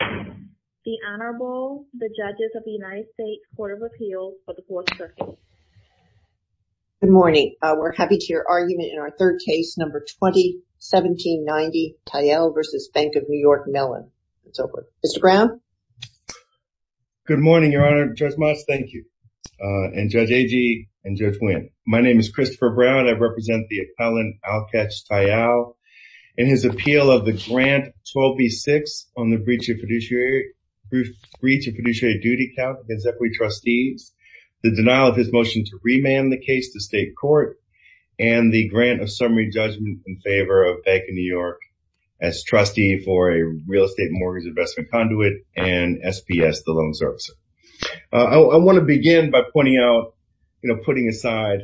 The Honorable, the Judges of the United States Court of Appeals for the Fourth Circuit. Good morning. We're happy to hear argument in our third case, number 20-1790, Tayal v. Bank of New York Mellon. It's over. Mr. Brown? Good morning, Your Honor. Judge Moss, thank you. And Judge Agee and Judge Wynn. My name is Christopher Brown. I represent the appellant, Alkesh Tayal, in his appeal of the grant 12B-6 on the breach of fiduciary duty count against equity trustees, the denial of his motion to remand the case to state court, and the grant of summary judgment in favor of Bank of New York as trustee for a real estate mortgage investment conduit and SPS, the loan servicer. I want to begin by pointing out, you know, putting aside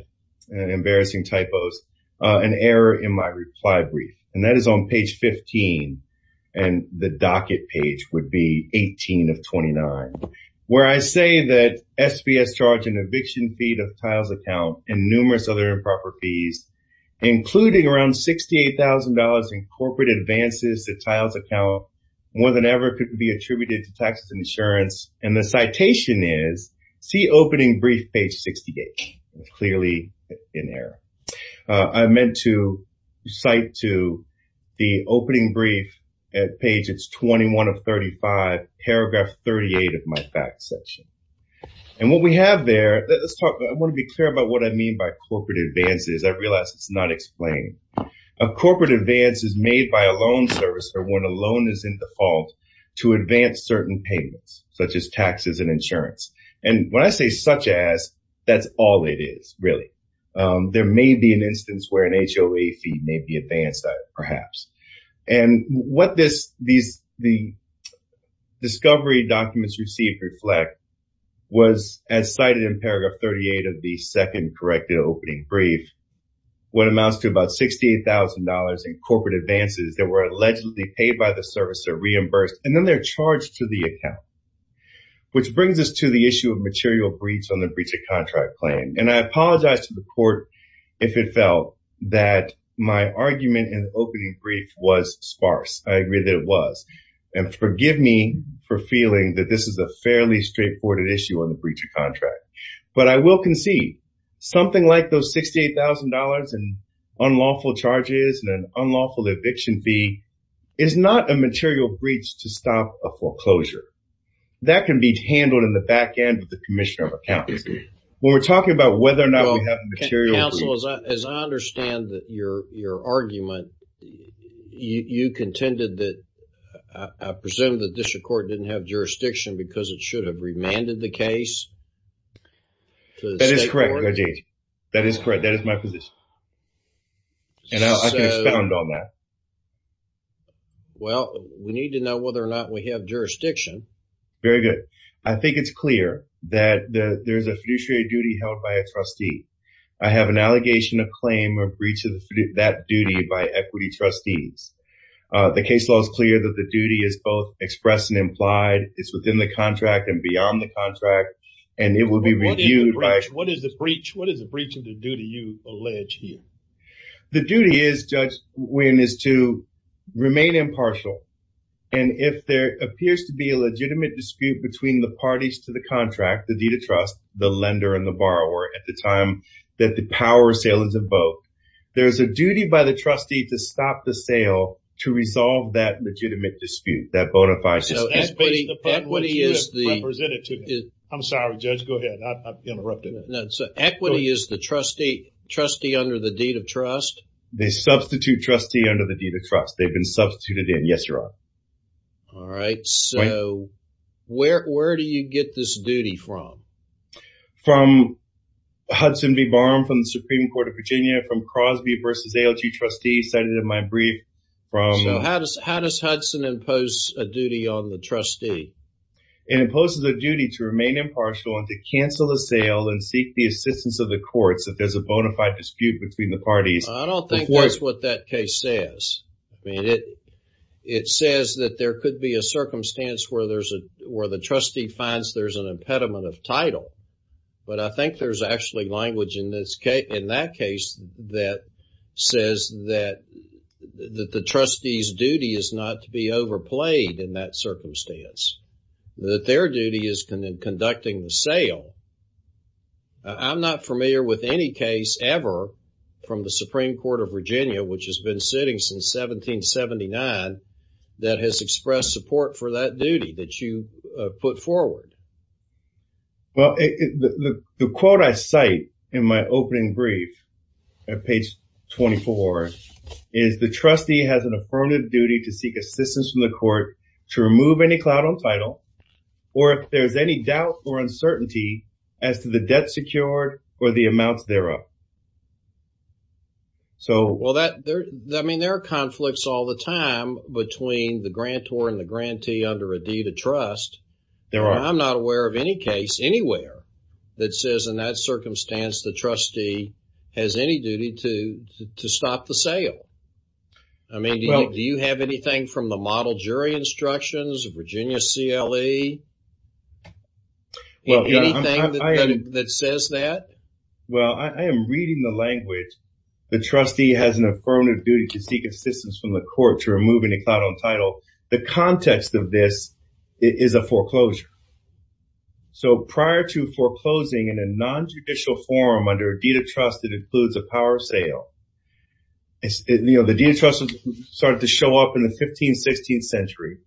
embarrassing typos, an error in my reply brief, and that is on page 15. And the docket page would be 18 of 29, where I say that SPS charged an eviction fee to Tayal's account and numerous other improper fees, including around $68,000 in corporate advances to Tayal's account, more than ever could be attributed to taxes and insurance. And the citation is, see opening brief page 68. It's clearly in error. I meant to cite to the opening brief at page 21 of 35, paragraph 38 of my fact section. And what we have there, I want to be clear about what I mean by corporate advances. I realize it's not explained. A corporate advance is made by a loan servicer when a loan is in default to advance certain payments, such as taxes and insurance. And when I say such as, that's all it is, really. There may be an instance where an HOA fee may be advanced, perhaps. And what these discovery documents received reflect was as cited in paragraph 38 of the second corrected opening brief, what amounts to about $68,000 in corporate advances that were allegedly paid by the servicer, reimbursed, and then they're charged to the account. Which brings us to the issue of material breach on the breach of contract claim. And I apologize to the court if it felt that my argument in opening brief was sparse. I agree that it was. And forgive me for feeling that this is a fairly straightforward issue on the breach of contract. But I will concede, something like those $68,000 in unlawful charges and an unlawful eviction fee is not a material breach to stop a foreclosure. That can be handled in the back end with the commissioner of accounts. When we're talking about whether or not we have a material breach. Counsel, as I understand your argument, you contended that, I presume the district court didn't have jurisdiction because it should have remanded the case? That is correct, Judge. That is correct. That is my position. And I can expound on that. Well, we need to know whether or not we have jurisdiction. Very good. I think it's clear that there's a fiduciary duty held by a trustee. I have an allegation of claim or breach of that duty by equity trustees. The case law is clear that the duty is both expressed and implied. It's within the contract and beyond the contract. And it will be reviewed. What is the breach? What is the breach of the duty you allege here? The duty is, Judge Wynn, is to remain impartial. And if there appears to be a legitimate dispute between the parties to the contract, the deed of trust, the lender and the borrower at the time that the power sale is invoked, there's a duty by the trustee to stop the sale to resolve that legitimate dispute, that bona fide sale. Equity is the... I'm sorry, Judge. Go ahead. I interrupted. Equity is the trustee under the deed of trust. They substitute trustee under the deed of trust. They've been substituted in. Yes, Your Honor. All right. So where do you get this duty from? From Hudson v. Barham from the Supreme Court of Virginia, from Crosby v. ALG trustee cited in my brief from... So how does Hudson impose a duty on the trustee? It imposes a duty to remain impartial and to cancel the sale and seek the assistance of the courts if there's a bona fide dispute between the parties. I don't think that's what that case says. I mean, it says that there could be a circumstance where the trustee finds there's an impediment of title. But I think there's actually language in that case that says that the trustee's duty is not to be overplayed in that circumstance. That their duty is conducting the sale. I'm not familiar with any case ever from the Supreme Court of Virginia, which has been sitting since 1779, that has expressed support for that duty that you put forward. Well, the quote I cite in my opening brief at page 24 is the trustee has an affirmative duty to seek assistance from the court to remove any clout on title, or if there's any doubt or uncertainty as to the debt secured or the amounts thereof. Well, I mean, there are conflicts all the time between the grantor and the grantee under a deed of trust. There are. I'm not aware of any case anywhere that says in that circumstance the trustee has any duty to stop the sale. I mean, do you have anything from the model jury instructions of Virginia CLE? Anything that says that? Well, I am reading the language. The trustee has an affirmative duty to seek assistance from the court to remove any clout on title. The context of this is a foreclosure. So prior to foreclosing in a non-judicial forum under a deed of trust that includes a power sale, the deed of trust started to show up in the 15th, 16th century.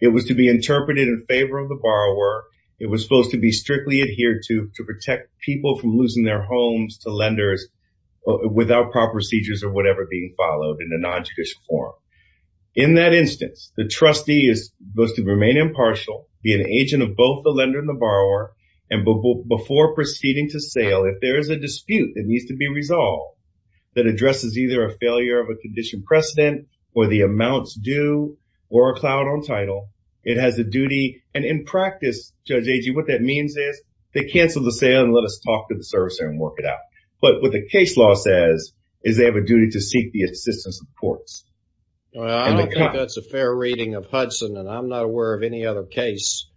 It was to be interpreted in favor of the borrower. It was supposed to be strictly adhered to to protect people from losing their homes to lenders without proper procedures or whatever being followed in a non-judicial forum. In that instance, the trustee is supposed to remain impartial, be an agent of both the lender and the borrower. And before proceeding to sale, if there is a dispute that needs to be resolved that addresses either a failure of a condition precedent or the amounts due or a clout on title, it has a duty. And in practice, Judge Agee, what that means is they cancel the sale and let us talk to the servicer and work it out. But what the case law says is they have a duty to seek the assistance of the courts. Well, I don't think that's a fair reading of Hudson, and I'm not aware of any other case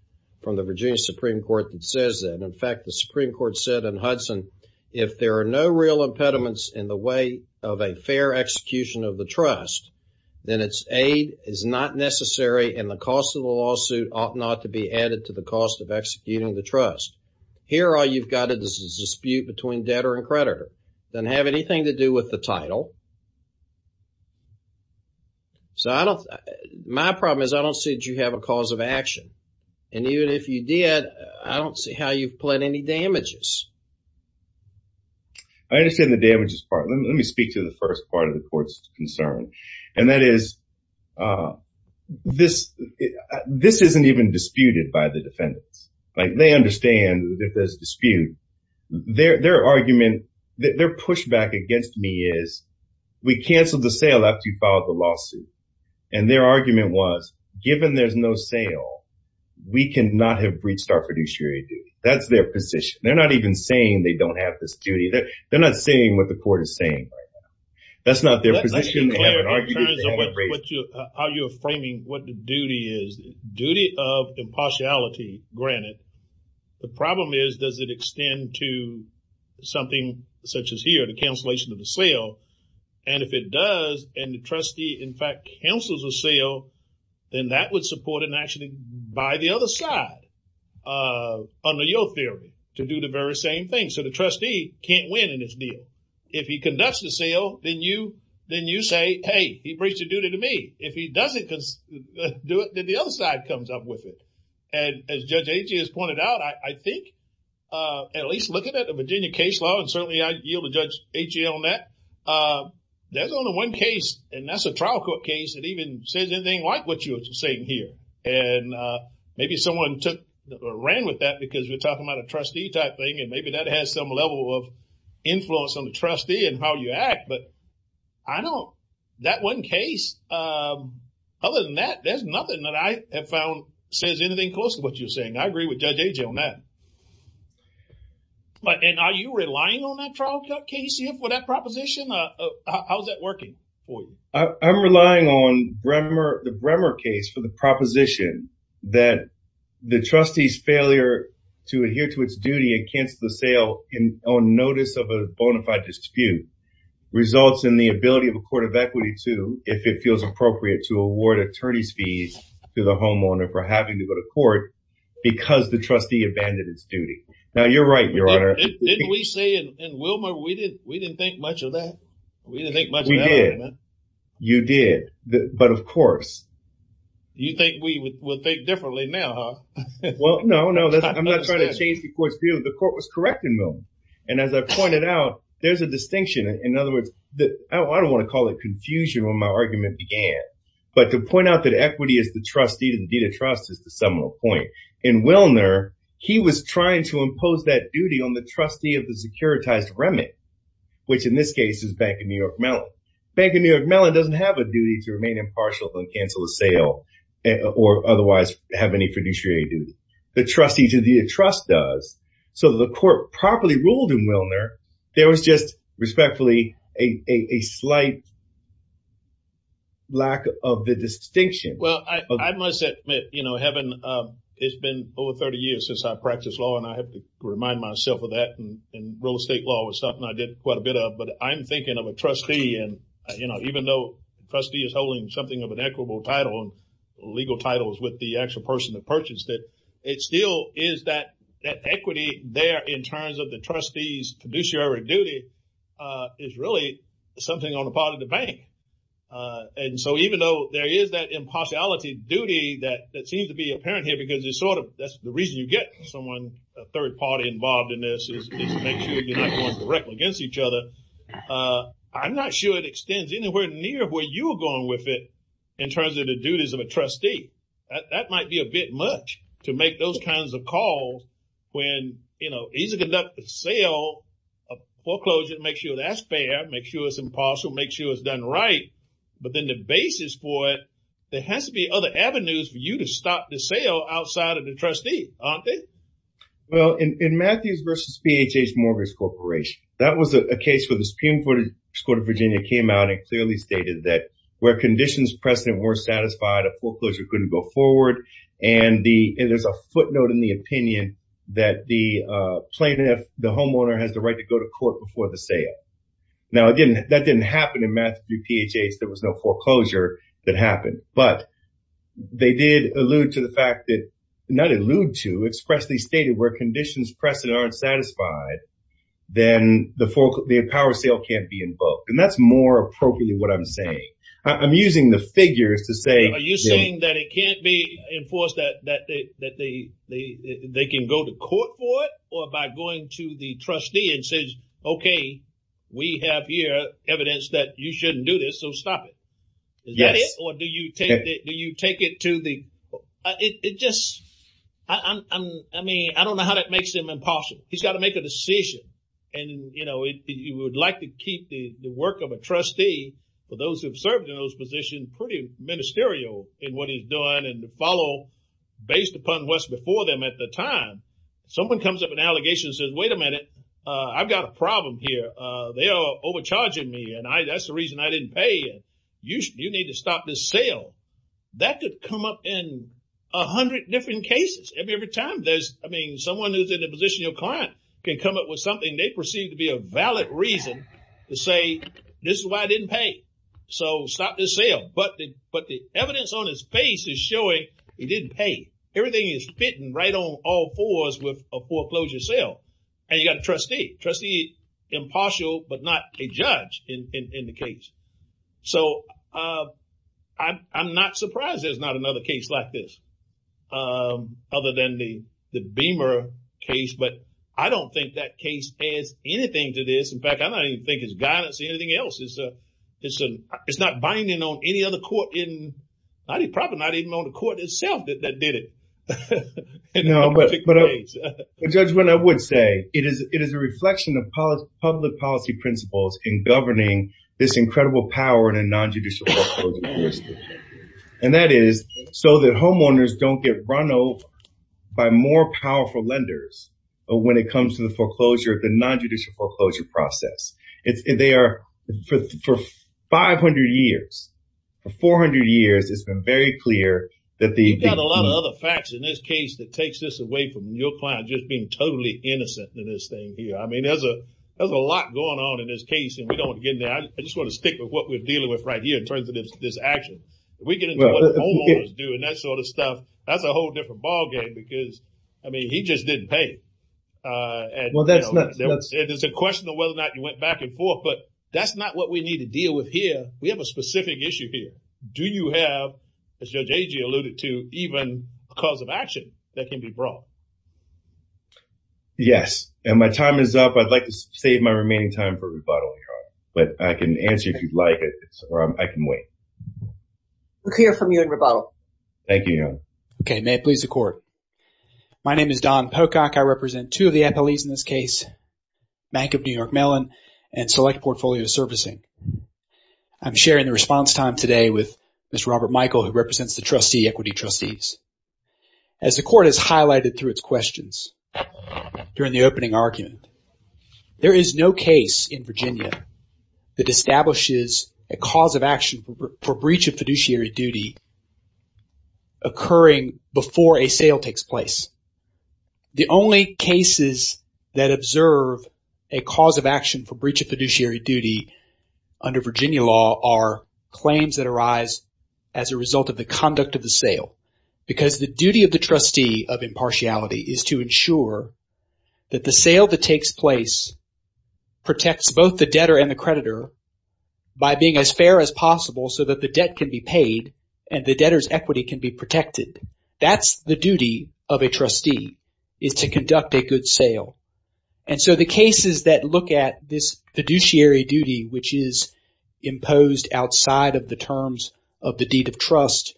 from the Virginia Supreme Court that says that. In fact, the Supreme Court said in Hudson, if there are no real impediments in the way of a fair execution of the trust, then its aid is not necessary and the cost of the lawsuit ought not to be added to the cost of executing the trust. Here, all you've got is a dispute between debtor and creditor. It doesn't have anything to do with the title. So my problem is I don't see that you have a cause of action. And even if you did, I don't see how you've pled any damages. I understand the damages part. Let me speak to the first part of the court's concern. And that is, this isn't even disputed by the defendants. They understand that there's dispute. Their argument, their pushback against me is, we canceled the sale after you filed the lawsuit. And their argument was, given there's no sale, we cannot have breached our fiduciary duty. That's their position. They're not even saying they don't have this duty. That's not their position. Are you framing what the duty is? Duty of impartiality, granted. The problem is, does it extend to something such as here, the cancellation of the sale? And if it does, and the trustee, in fact, cancels the sale, then that would support an action by the other side. Under your theory, to do the very same thing. So the trustee can't win in this deal. If he conducts the sale, then you say, hey, he breached the duty to me. If he doesn't do it, then the other side comes up with it. And as Judge Achey has pointed out, I think, at least looking at the Virginia case law, and certainly I yield to Judge Achey on that, there's only one case, and that's a trial court case, that even says anything like what you're saying here. And maybe someone ran with that because we're talking about a trustee type thing, and maybe that has some level of influence on the trustee and how you act. But I don't, that one case, other than that, there's nothing that I have found says anything close to what you're saying. I agree with Judge Achey on that. And are you relying on that trial court case for that proposition? How's that working for you? I'm relying on the Bremer case for the proposition that the trustee's failure to adhere to its duty against the sale on notice of a bona fide dispute results in the ability of a court of equity to, if it feels appropriate, to award attorney's fees to the homeowner for having to go to court because the trustee abandoned its duty. Now, you're right, Your Honor. Didn't we say in Wilmer, we didn't think much of that? We didn't think much of that. You did, but of course. You think we will think differently now, huh? Well, no, no, I'm not trying to change the court's view. The court was correct in Wilmer. And as I pointed out, there's a distinction. In other words, I don't want to call it confusion when my argument began, but to point out that equity is the trustee, the deed of trust is the seminal point. In Wilmer, he was trying to impose that duty on the trustee of the securitized remit, which in this case is Bank of New York Mellon. Bank of New York Mellon doesn't have a duty to remain impartial and cancel a sale or otherwise have any fiduciary duties. The trustee to the trust does. So the court properly ruled in Wilmer. There was just respectfully a slight lack of the distinction. Well, I must admit, you know, it's been over 30 years since I practiced law and I have to remind myself of that. And real estate law was something I did quite a bit of. But I'm thinking of a trustee. And, you know, even though the trustee is holding something of an equitable title, legal titles with the actual person that purchased it, it still is that equity there in terms of the trustee's fiduciary duty is really something on the part of the bank. And so even though there is that impartiality duty that seems to be apparent here, because it's sort of that's the reason you get someone, a third party involved in this is to make sure you're not going directly against each other. I'm not sure it extends anywhere near where you were going with it in terms of the duties of a trustee. That might be a bit much to make those kinds of calls when, you know, he's a conduct the sale of foreclosure and make sure that's fair, make sure it's impartial, make sure it's done right. But then the basis for it, there has to be other avenues for you to stop the sale outside of the trustee, aren't they? Well, in Matthews versus BHS mortgage corporation, that was a case where the Supreme Court of Virginia came out and clearly stated that where conditions precedent were satisfied, a foreclosure couldn't go forward. And there's a footnote in the opinion that the plaintiff, the homeowner has the right to go to court before the sale. Now, again, that didn't happen in Matthews versus BHS. There was no foreclosure that happened, but they did allude to the fact that not allude to expressly stated where conditions precedent aren't satisfied, then the power sale can't be invoked. And that's more appropriately what I'm saying. I'm using the figures to say, are you saying that it can't be enforced, that they can go to court for it or by going to the trustee and says, okay, we have here evidence that you shouldn't do this. So stop it. Or do you take it to the, it just, I mean, I don't know how that makes him impartial. He's got to make a decision. And, you know, you would like to keep the work of a trustee for those who have served in those positions, pretty ministerial in what he's doing and to follow based upon what's before them at the time. Someone comes up with an allegation and says, wait a minute, I've got a problem here. They are overcharging me and I, that's the reason I didn't pay. You need to stop this sale. That could come up in a hundred different cases. Every time there's, I mean, someone who's in a position, your client can come up with something they perceive to be a valid reason to say, this is why I didn't pay. So stop this sale. But the, but the evidence on his face is showing he didn't pay. Everything is fitting right on all fours with a foreclosure sale. And you've got a trustee, trustee impartial, but not a judge in the case. So I'm not surprised there's not another case like this. Other than the, the Beamer case. But I don't think that case is anything to this. In fact, I don't even think it's guidance or anything else. It's a, it's a, it's not binding on any other court in, not even probably not even on the court itself that, that did it. No, but, but a judgment I would say it is, it is a reflection of public policy principles in governing this incredible power in a nonjudicial. And that is so that homeowners don't get run over by more powerful lenders. But when it comes to the foreclosure, the nonjudicial foreclosure process, it's, they are for 500 years, for 400 years it's been very clear that the, you've got a lot of other facts in this case that takes this away from your client. Just being totally innocent in this thing here. I mean, there's a, there's a lot going on in this case and we don't want to get in I just want to stick with what we're dealing with right here in terms of this action. If we get into what homeowners do and that sort of stuff, that's a whole different ballgame because I mean, he just didn't pay. Well, that's nuts. It is a question of whether or not you went back and forth, but that's not what we need to deal with here. We have a specific issue here. Do you have, as Judge Agee alluded to, even cause of action that can be brought? Yes. And my time is up. I'd like to save my remaining time for rebuttal. But I can answer if you'd like it or I can wait. We'll hear from you in rebuttal. Thank you. Okay. May it please the court. My name is Don Pocock. I represent two of the FLEs in this case, Bank of New York Mellon and Select Portfolio Servicing. I'm sharing the response time today with Mr. Robert Michael, who represents the trustee equity trustees. As the court has highlighted through its questions during the opening argument, there is no case in Virginia that establishes a cause of action for breach of fiduciary duty occurring before a sale takes place. The only cases that observe a cause of action for breach of fiduciary duty under Virginia law are claims that arise as a result of the conduct of the sale. Because the duty of the trustee of impartiality is to ensure that the sale that takes place protects both the debtor and the creditor by being as fair as possible so that the debt can be paid and the debtor's equity can be protected. That's the duty of a trustee is to conduct a good sale. And so the cases that look at this fiduciary duty, which is imposed outside of the terms of the deed of trust,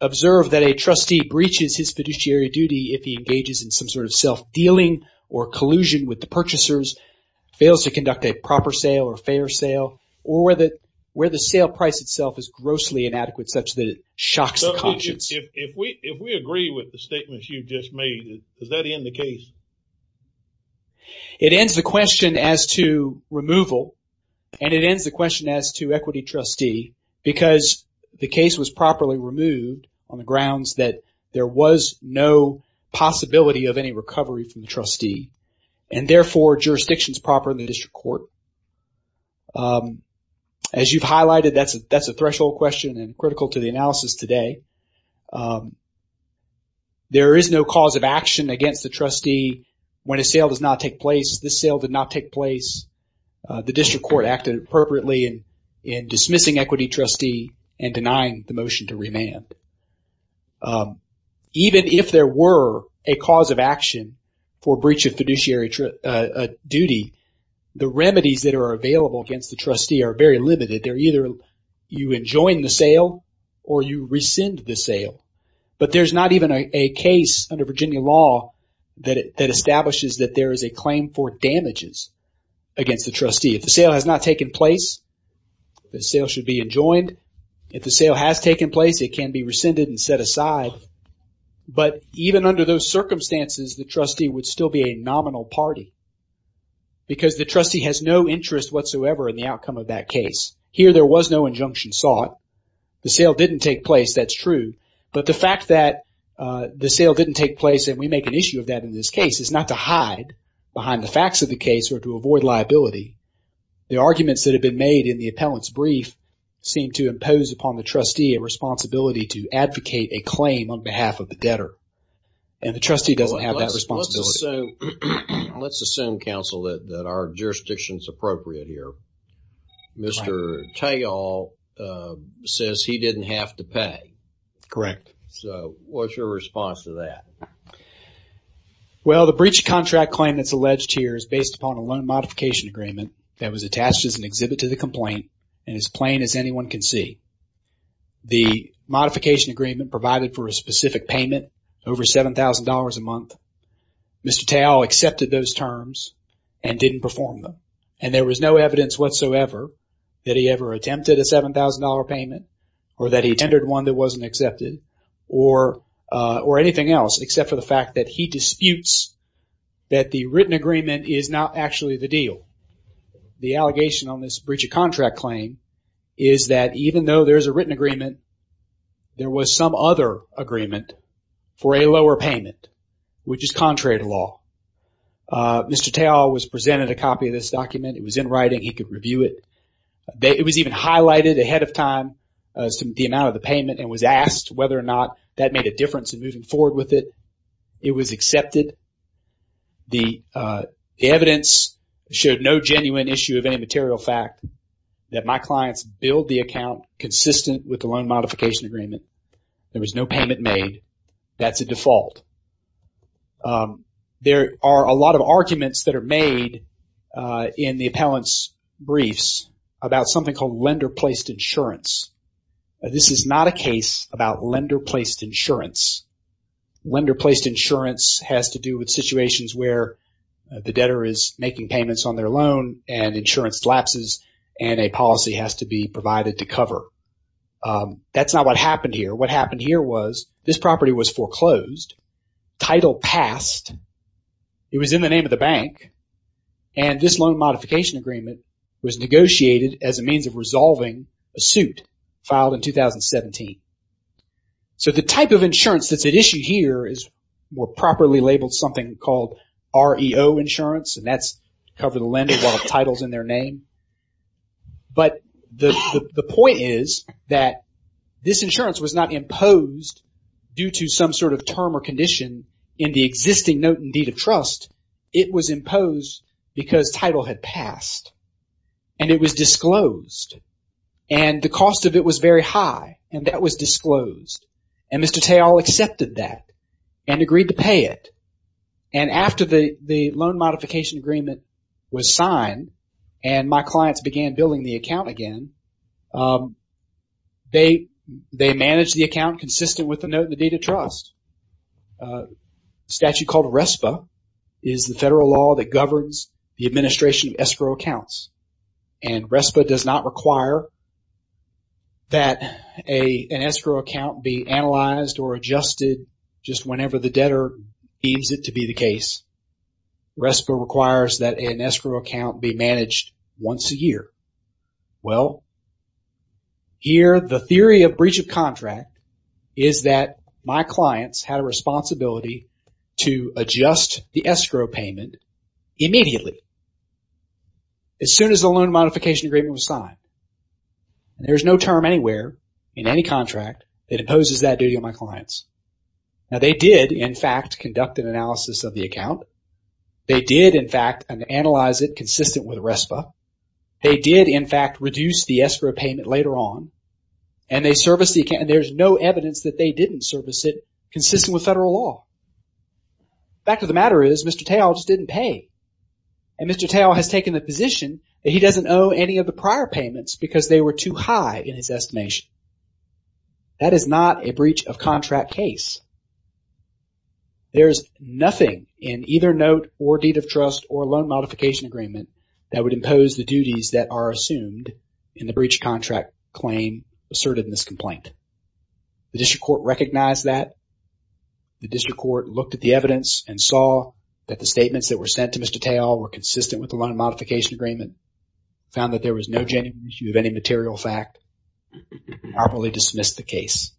observe that a trustee breaches his fiduciary duty if he engages in some sort of self-dealing or collusion with the purchasers, fails to conduct a proper sale or fair sale, or where the sale price itself is grossly inadequate such that it shocks the conscience. If we agree with the statements you've just made, does that end the case? It ends the question as to removal and it ends the question as to equity trustee because the case was properly removed on the grounds that there was no possibility of any recovery from the trustee and therefore jurisdiction is proper in the district court. As you've highlighted, that's a threshold question and critical to the analysis today. There is no cause of action against the trustee when a sale does not take place. This sale did not take place. The district court acted appropriately in dismissing equity trustee and denying the motion to remand. Even if there were a cause of action for breach of fiduciary duty, the remedies that are available against the trustee are very limited. They're either you enjoin the sale or you rescind the sale. But there's not even a case under Virginia law that establishes that there is a claim for damages against the trustee. If the sale has not taken place, the sale should be enjoined. If the sale has taken place, it can be rescinded and set aside. But even under those circumstances, the trustee would still be a nominal party because the trustee has no interest whatsoever in the outcome of that case. Here there was no injunction sought. The sale didn't take place, that's true. But the fact that the sale didn't take place and we make an issue of that in this case is not to hide behind the facts of the case or to avoid liability. The arguments that have been made in the appellant's brief seem to impose upon the trustee a responsibility to advocate a claim on behalf of the debtor. And the trustee doesn't have that responsibility. Let's assume, counsel, that our jurisdiction is appropriate here. Mr. Tayol says he didn't have to pay. Correct. So, what's your response to that? Well, the breach of contract claim that's alleged here is based upon a loan modification agreement that was attached as an exhibit to the complaint and as plain as anyone can see. The modification agreement provided for a specific payment over $7,000 a month. Mr. Tayol accepted those terms and didn't perform them. And there was no evidence whatsoever that he ever attempted a $7,000 payment or that he tendered one that wasn't accepted or anything else except for the fact that he disputes that the written agreement is not actually the deal. The allegation on this breach of contract claim is that even though there's a written agreement, there was some other agreement for a lower payment, which is contrary to law. Mr. Tayol was presented a copy of this document. It was in writing. He could review it. It was even highlighted ahead of time as to the amount of the payment and was asked whether or not that made a difference in moving forward with it. It was accepted. The evidence showed no genuine issue of any material fact that my clients billed the account consistent with the loan modification agreement. There was no payment made. That's a default. There are a lot of arguments that are made in the appellant's briefs about something called lender-placed insurance. This is not a case about lender-placed insurance. Lender-placed insurance has to do with situations where the debtor is making payments on their loan and insurance lapses and a policy has to be provided to cover. That's not what happened here. What happened here was this property was foreclosed. Title passed. It was in the name of the bank. And this loan modification agreement was negotiated as a means of resolving a suit filed in 2017. So the type of insurance that's at issue here is more properly labeled something called REO insurance, and that's to cover the lender while the title's in their name. But the point is that this insurance was not imposed due to some sort of term or condition in the existing note in deed of trust. It was imposed because title had passed. And it was disclosed. And the cost of it was very high. But it was disclosed. And Mr. Teil accepted that and agreed to pay it. And after the loan modification agreement was signed and my clients began billing the account again, they managed the account consistent with the note in the deed of trust. Statute called RESPA is the federal law that governs the administration of escrow accounts. And RESPA does not require that an escrow account be analyzed or adjusted just whenever the debtor deems it to be the case. RESPA requires that an escrow account be managed once a year. Well, here the theory of breach of contract is that my clients had a responsibility to adjust the escrow payment immediately as soon as the loan modification agreement was signed. There's no term anywhere in any contract that imposes that duty on my clients. Now, they did, in fact, conduct an analysis of the account. They did, in fact, analyze it consistent with RESPA. They did, in fact, reduce the escrow payment later on. And they serviced the account. And there's no evidence that they didn't service it consistent with federal law. The fact of the matter is Mr. Teil just didn't pay. And Mr. Teil has taken the position that he doesn't owe any of the prior payments because they were too high in his estimation. That is not a breach of contract case. There's nothing in either note or deed of trust or loan modification agreement that would impose the duties that are assumed in the breach of contract claim asserted in this complaint. The district court recognized that. The district court looked at the evidence and saw that the statements that were sent to Mr. Teil were consistent with the loan modification agreement. Found that there was no genuine issue of any material fact. Properly dismissed the case.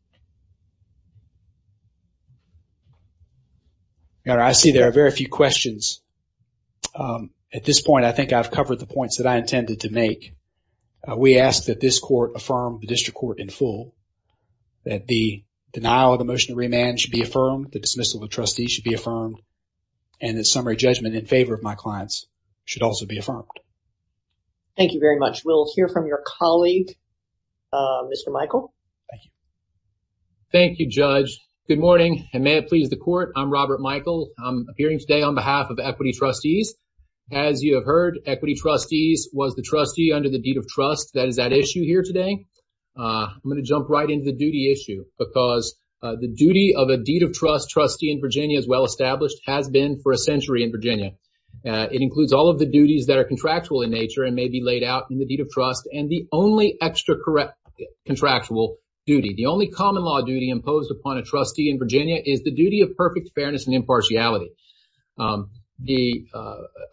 Now, I see there are very few questions. At this point, I think I've covered the points that I intended to make. We ask that this court affirm the district court in full. That the denial of the motion of remand should be affirmed. The dismissal of the trustee should be affirmed. And the summary judgment in favor of my clients should also be affirmed. Thank you very much. We'll hear from your colleague, Mr. Michael. Thank you, Judge. Good morning, and may it please the court. I'm Robert Michael. I'm appearing today on behalf of Equity Trustees. As you have heard, Equity Trustees was the trustee under the deed of trust that is at issue here today. I'm going to jump right into the duty issue because the duty of a deed of trust trustee in Virginia as well established has been for a century in Virginia. It includes all of the duties that are in nature and may be laid out in the deed of trust and the only extra contractual duty. The only common law duty imposed upon a trustee in Virginia is the duty of perfect fairness and impartiality. The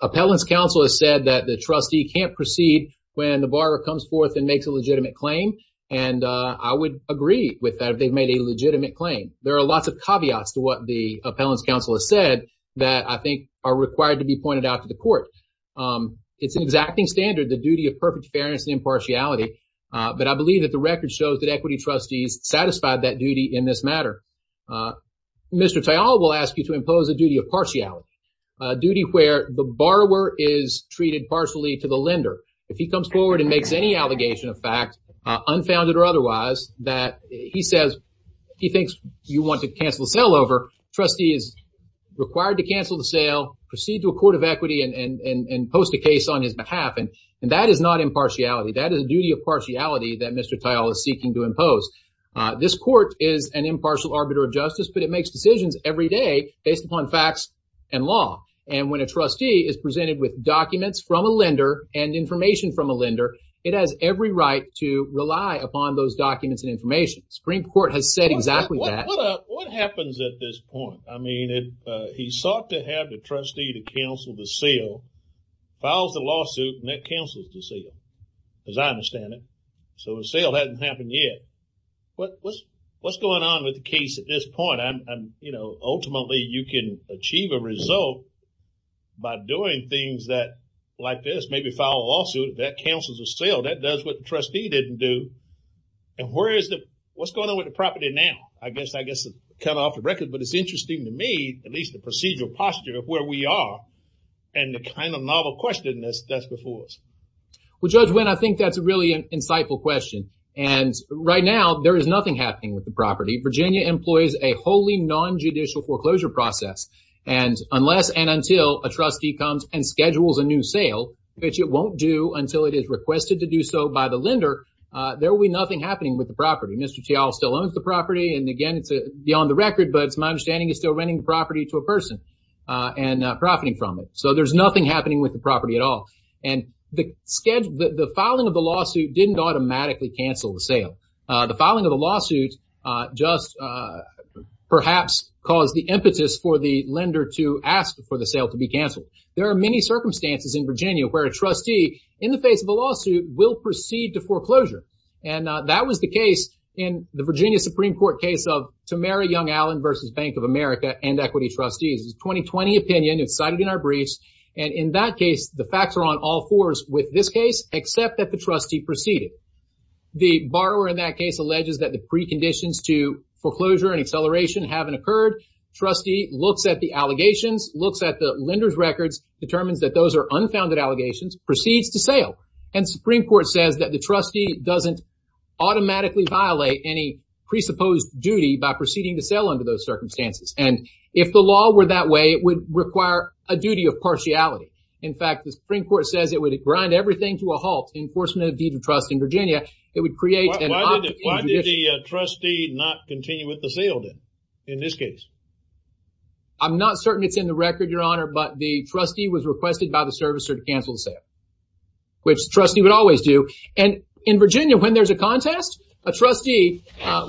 appellant's counsel has said that the trustee can't proceed when the borrower comes forth and makes a legitimate claim. And I would agree with that if they've made a legitimate claim. There are lots of caveats to what the appellant's counsel has said that I think are required to be pointed out to the court. I think it's standard, the duty of perfect fairness and impartiality. But I believe that the record shows that Equity Trustees satisfied that duty in this matter. Mr. Tyal will ask you to impose a duty of partiality, a duty where the borrower is treated partially to the lender. If he comes forward and makes any allegation of fact, unfounded or otherwise, that he says he thinks you want to cancel the sale over, trustee is required to cancel the sale, proceed to a court of equity and post a case on his behalf. And that is not impartiality. That is a duty of partiality that Mr. Tyal is seeking to impose. This court is an impartial arbiter of justice, but it makes decisions every day based upon facts and law. And when a trustee is presented with documents from a lender and information from a lender, it has every right to rely upon those documents and information. The Supreme Court has said exactly that. What happens at this point? I mean, he sought to have the trustee to cancel the sale, files the lawsuit, and that cancels the sale, as I understand it. So the sale hasn't happened yet. What's going on with the case at this point? Ultimately, you can achieve a result by doing things like this, maybe file a lawsuit, that cancels the sale. That does what the trustee didn't do. And what's going on with the property now? I guess it's cut off the record, but it's interesting to me, because that's where we are. And the kind of novel question that's before us. Well, Judge Wynn, I think that's a really insightful question. And right now, there is nothing happening with the property. Virginia employs a wholly nonjudicial foreclosure process. And unless and until a trustee comes and schedules a new sale, which it won't do until it is requested to do so by the lender, there will be nothing happening with the property. Mr. Tial still owns the property, and again, it's beyond the record, but it's my understanding that there's nothing happening from it. So there's nothing happening with the property at all. And the filing of the lawsuit didn't automatically cancel the sale. The filing of the lawsuit just perhaps caused the impetus for the lender to ask for the sale to be canceled. There are many circumstances in Virginia where a trustee, in the face of a lawsuit, will proceed to foreclosure. And that was the case in the Virginia Supreme Court case of Tamara Young-Allen v. Bank of America and equity trustees. And we've seen this in our briefs. And in that case, the facts are on all fours with this case except that the trustee proceeded. The borrower in that case alleges that the preconditions to foreclosure and acceleration haven't occurred. Trustee looks at the allegations, looks at the lender's records, determines that those are unfounded allegations, proceeds to sale. And the Supreme Court says that the trustee doesn't automatically violate any presupposed duty by proceeding to sale under those circumstances. It's a duty of partiality. In fact, the Supreme Court says it would grind everything to a halt in enforcement of the deed of trust in Virginia. It would create an... Why did the trustee not continue with the sale then in this case? I'm not certain it's in the record, Your Honor, but the trustee was requested by the servicer to cancel the sale, which the trustee would always do. And in Virginia, when there's a contest, a trustee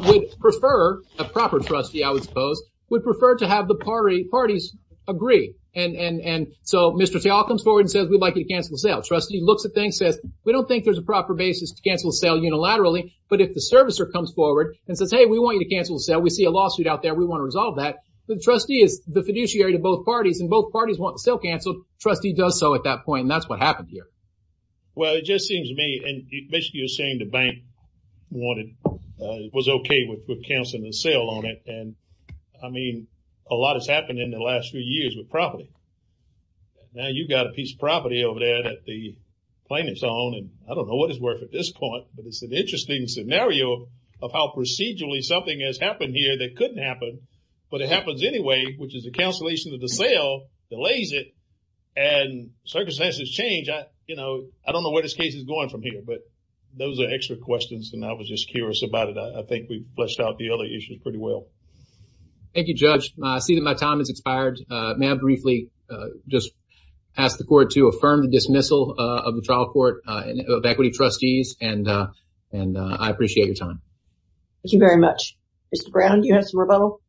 would prefer, a proper trustee, I would suppose, would prefer to have the parties agree to cancel the sale. And so Mr. Tal comes forward and says, we'd like you to cancel the sale. Trustee looks at things, says, we don't think there's a proper basis to cancel the sale unilaterally. But if the servicer comes forward and says, hey, we want you to cancel the sale, we see a lawsuit out there, we want to resolve that. The trustee is the fiduciary to both parties, and both parties want the sale canceled. Trustee does so at that point, and that's what happened here. Well, it just seems to me, now you've got a piece of property over there at the plaintiff's own, and I don't know what it's worth at this point, but it's an interesting scenario of how procedurally something has happened here that couldn't happen, but it happens anyway, which is the cancellation of the sale delays it, and circumstances change. I don't know where this case is going from here, but those are extra questions, and I was just curious about it. I think we fleshed out the other issues pretty well. Thank you, Judge. I see that my time has expired. I just ask the court to affirm the dismissal of the trial court of equity trustees, and I appreciate your time. Thank you very much. Mr. Brown, do you have some rebuttal?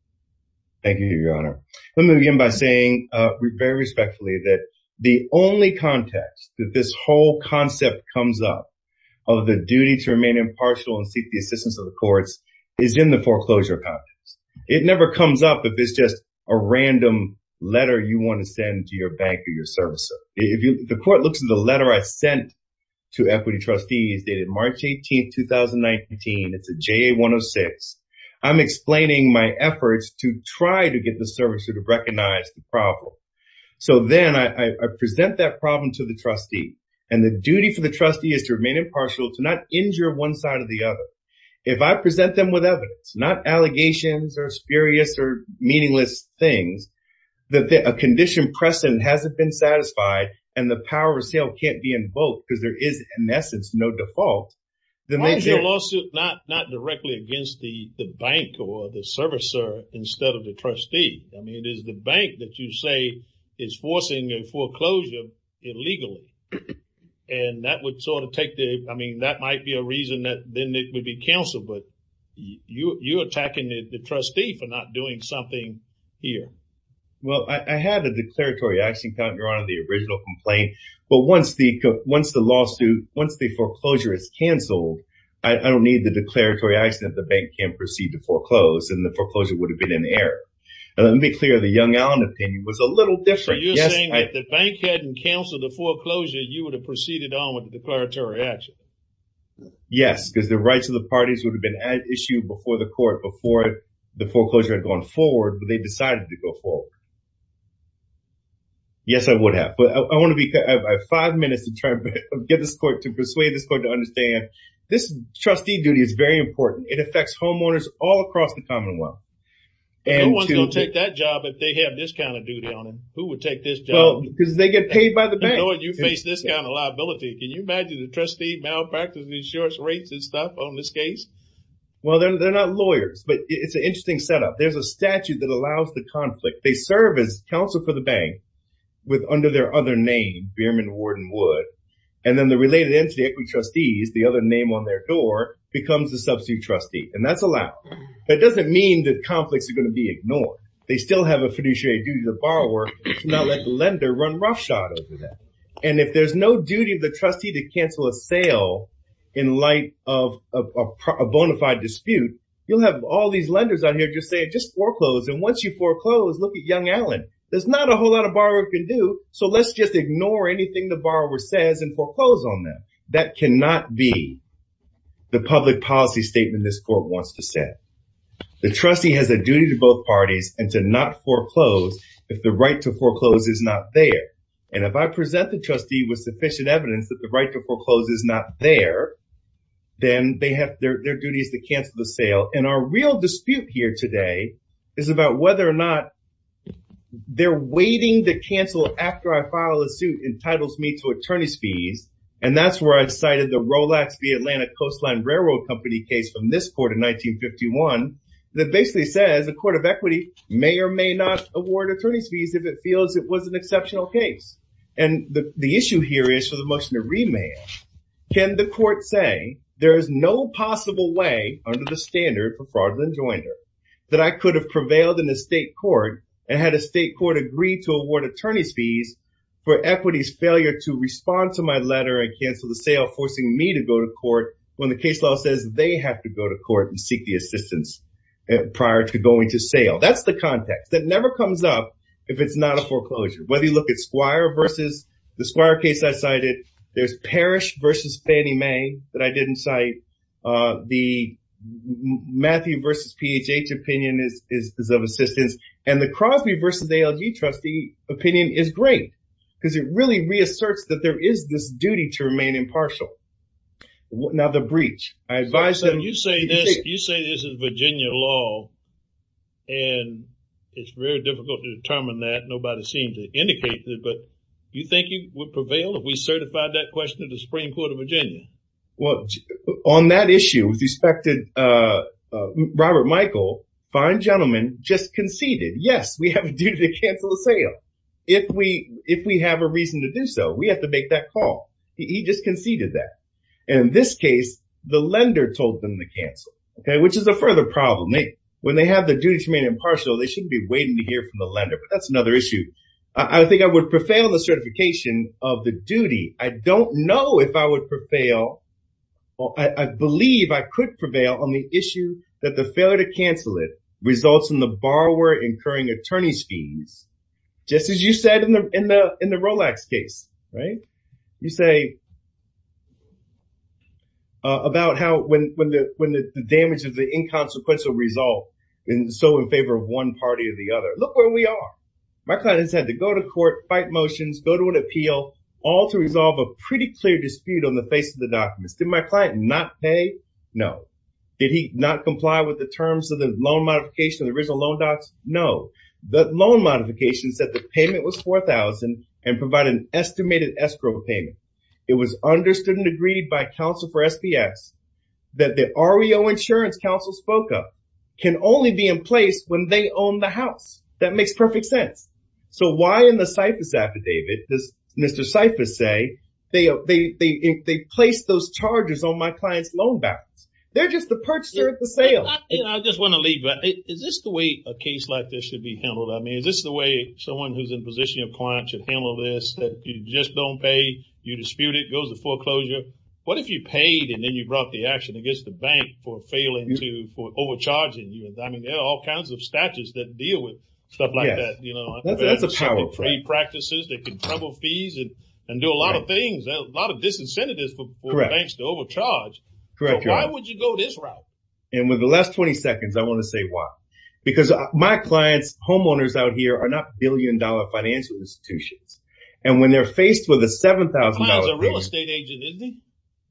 Thank you, Your Honor. Let me begin by saying very respectfully that the only context that this whole concept comes up of the duty to remain impartial and seek the assistance of the courts It never comes up if it's just a random letter you want to send to your bank or your servicer. The court looks at the letter I sent to equity trustees dated March 18, 2019. It's a JA-106. I'm explaining my efforts to try to get the servicer to recognize the problem. So then I present that problem to the trustee, and the duty for the trustee is to remain impartial, to not injure one side or the other. If I present them with evidence, not allegations or spurious or meaningless things, and the person hasn't been satisfied and the power of assailant can't be invoked because there is, in essence, no default, then they... Why is your lawsuit not directly against the bank or the servicer instead of the trustee? I mean, it is the bank that you say is forcing a foreclosure illegally. And that would sort of take the... I mean, that might be a reason that then it would be counseled, but you're attacking the trustee for not doing something here. Well, I had a declaratory action counter on the original complaint. But once the lawsuit, once the foreclosure is canceled, I don't need the declaratory action if the bank can't proceed to foreclose and the foreclosure would have been in error. Let me be clear, the Young-Allen opinion was a little different. So you're saying that if the bank hadn't counseled the foreclosure, you would have proceeded on with the declaratory action? Yes, because the rights of the parties would have been issued before the court would have gone forward. Yes, I would have. But I want to be... I have five minutes to try to get this court to persuade this court to understand this trustee duty is very important. It affects homeowners all across the Commonwealth. Who's going to take that job if they have this kind of duty on them? Who would take this job? Because they get paid by the bank. You face this kind of liability. Can you imagine a trustee malpracticing insurance rates if they serve as counsel for the bank under their other name, Behrman, Ward, and Wood, and then the related entity, equity trustees, the other name on their door, becomes the substitute trustee, and that's allowed. That doesn't mean that conflicts are going to be ignored. They still have a fiduciary duty to the borrower to not let the lender run roughshod over them. And if there's no duty of the trustee to cancel a sale in light of a bona fide dispute, you'll have all these lenders out here just saying, just foreclose. And once you foreclose, look at Young Allen. There's not a whole lot a borrower can do, so let's just ignore anything the borrower says and foreclose on them. That cannot be the public policy statement this court wants to set. The trustee has a duty to both parties and to not foreclose if the right to foreclose is not there. And if I present the trustee with sufficient evidence that the right to foreclose is not there, then their duty is to cancel the sale. And our real dispute here today is about whether or not they're waiting to cancel after I file a suit entitles me to attorney's fees. And that's where I've cited the Rolex v. Atlanta Coastline Railroad Company case from this court in 1951 that basically says the Court of Equity may or may not award attorney's fees And the issue here is for the motion to remand. Can the court say there is no possible way under the standard of fraudulent joinder that I could have prevailed in the state court and had a state court agree to award attorney's fees for Equity's failure to respond to my letter and cancel the sale forcing me to go to court when the case law says they have to go to court and seek the assistance prior to going to sale. That's the context. That never comes up if it's not a foreclosure. Whether you look at Squire v. that I didn't cite the Matthew v. PHH opinion is of assistance and the Crosby v. ALG trustee opinion is great because it really reasserts that there is this duty to remain impartial. Now the breach. You say this is Virginia law and it's very difficult to determine that. Nobody seems to indicate that but you think you would prevail if we certified that question on that issue with respect to Robert Michael. Fine gentleman just conceded yes we have a duty to cancel the sale. If we have a reason to do so we have to make that call. He just conceded that and in this case the lender told them to cancel which is a further problem. When they have the duty to remain impartial they should be waiting to hear from the lender but that's another issue. I think I would prevail on the certification of the duty. I don't know if I would prevail. I believe I could prevail on the issue that the failure to cancel it results in the borrower incurring attorney's fees. Just as you said in the Rolex case. You say about how when the damage of the inconsequential result is so in favor of one party or the other. Look where we are. My client has had to go to court fight motions, go to an appeal all to resolve a pretty clear dispute on the face of the documents. Did my client not pay? No. Did he not comply with the terms of the loan modification of the original loan docs? No. The loan modification said the payment was $4,000 and provided an estimated escrow payment. It was understood and agreed by counsel for SPS that the REO insurance counsel spoke of can only be in place when they own the house. That makes perfect sense. So why in the CIFAS affidavit does Mr. CIFAS say they placed those charges on my client's loan balance? They're just the purchaser at the sale. I just want to leave. Is this the way a case like this should be handled? I mean, is this the way someone who's in position of client should handle this that you just don't pay, you dispute it, goes to foreclosure? What if you paid and then you brought the action against the bank for failing to, for overcharging you? I mean, there are all kinds of statutes that deal with stuff like that, you know. That's a power play. They can trouble fees and do a lot of things, a lot of disincentives for banks to overcharge. Correct. Why would you go this route? And with the last 20 seconds, I want to say why. Because my clients, homeowners out here are not billion dollar financial institutions. And when they're faced with a $7,000... My client's a real estate agent, isn't he?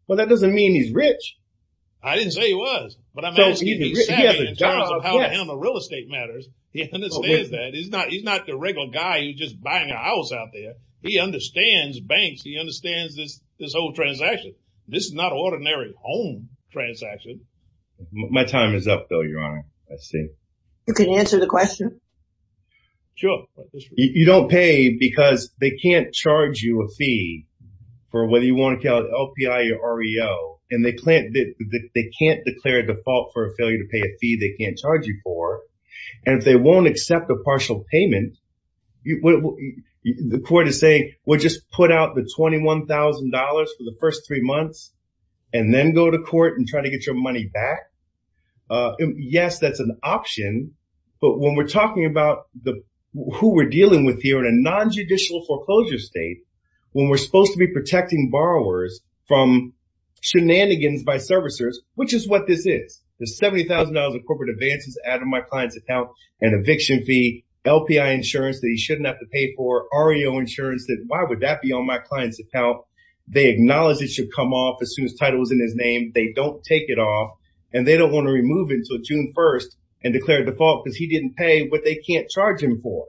Well, that doesn't mean he's rich. I didn't say he was, but I'm asking if he's savvy in terms of how to handle real estate matters. He understands that. He's not the regular guy who's just buying a house out there. He understands banks. He understands this whole transaction. This is not an ordinary home transaction. My time is up, though, Your Honor. I see. You can answer the question. Sure. You don't pay because they can't charge you a fee for whether you want to call it LPI or REO. And they can't declare a default for a failure to pay a fee they can't charge you for. And if they won't accept a partial payment, the court is saying, well, just put out the $21,000 for the first three months and then go to court and try to get your money back. Yes, that's an option. But when we're talking about who we're dealing with here in a non-judicial foreclosure state, when we're supposed to be protecting borrowers from shenanigans by servicers, which is what this is, the $70,000 of corporate advances added to my client's account and eviction fee, LPI insurance that he shouldn't have to pay for, REO insurance that why would that be on my client's account? They acknowledge it should come off as soon as title is in his name. They don't take it off and they don't want to remove it until June 1st and declare default because he didn't pay what they can't charge him for.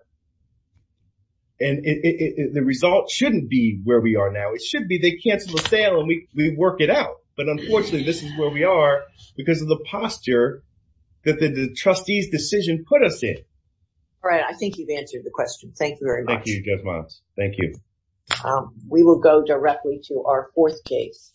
And the result shouldn't be where we are now. It should be they cancel the sale and we work it out. But unfortunately, this is where we are because of the posture that the trustee's decision put us in. All right. I think you've answered the question. Thank you very much. Thank you, Judge Miles. Thank you. We will go directly to our fourth case.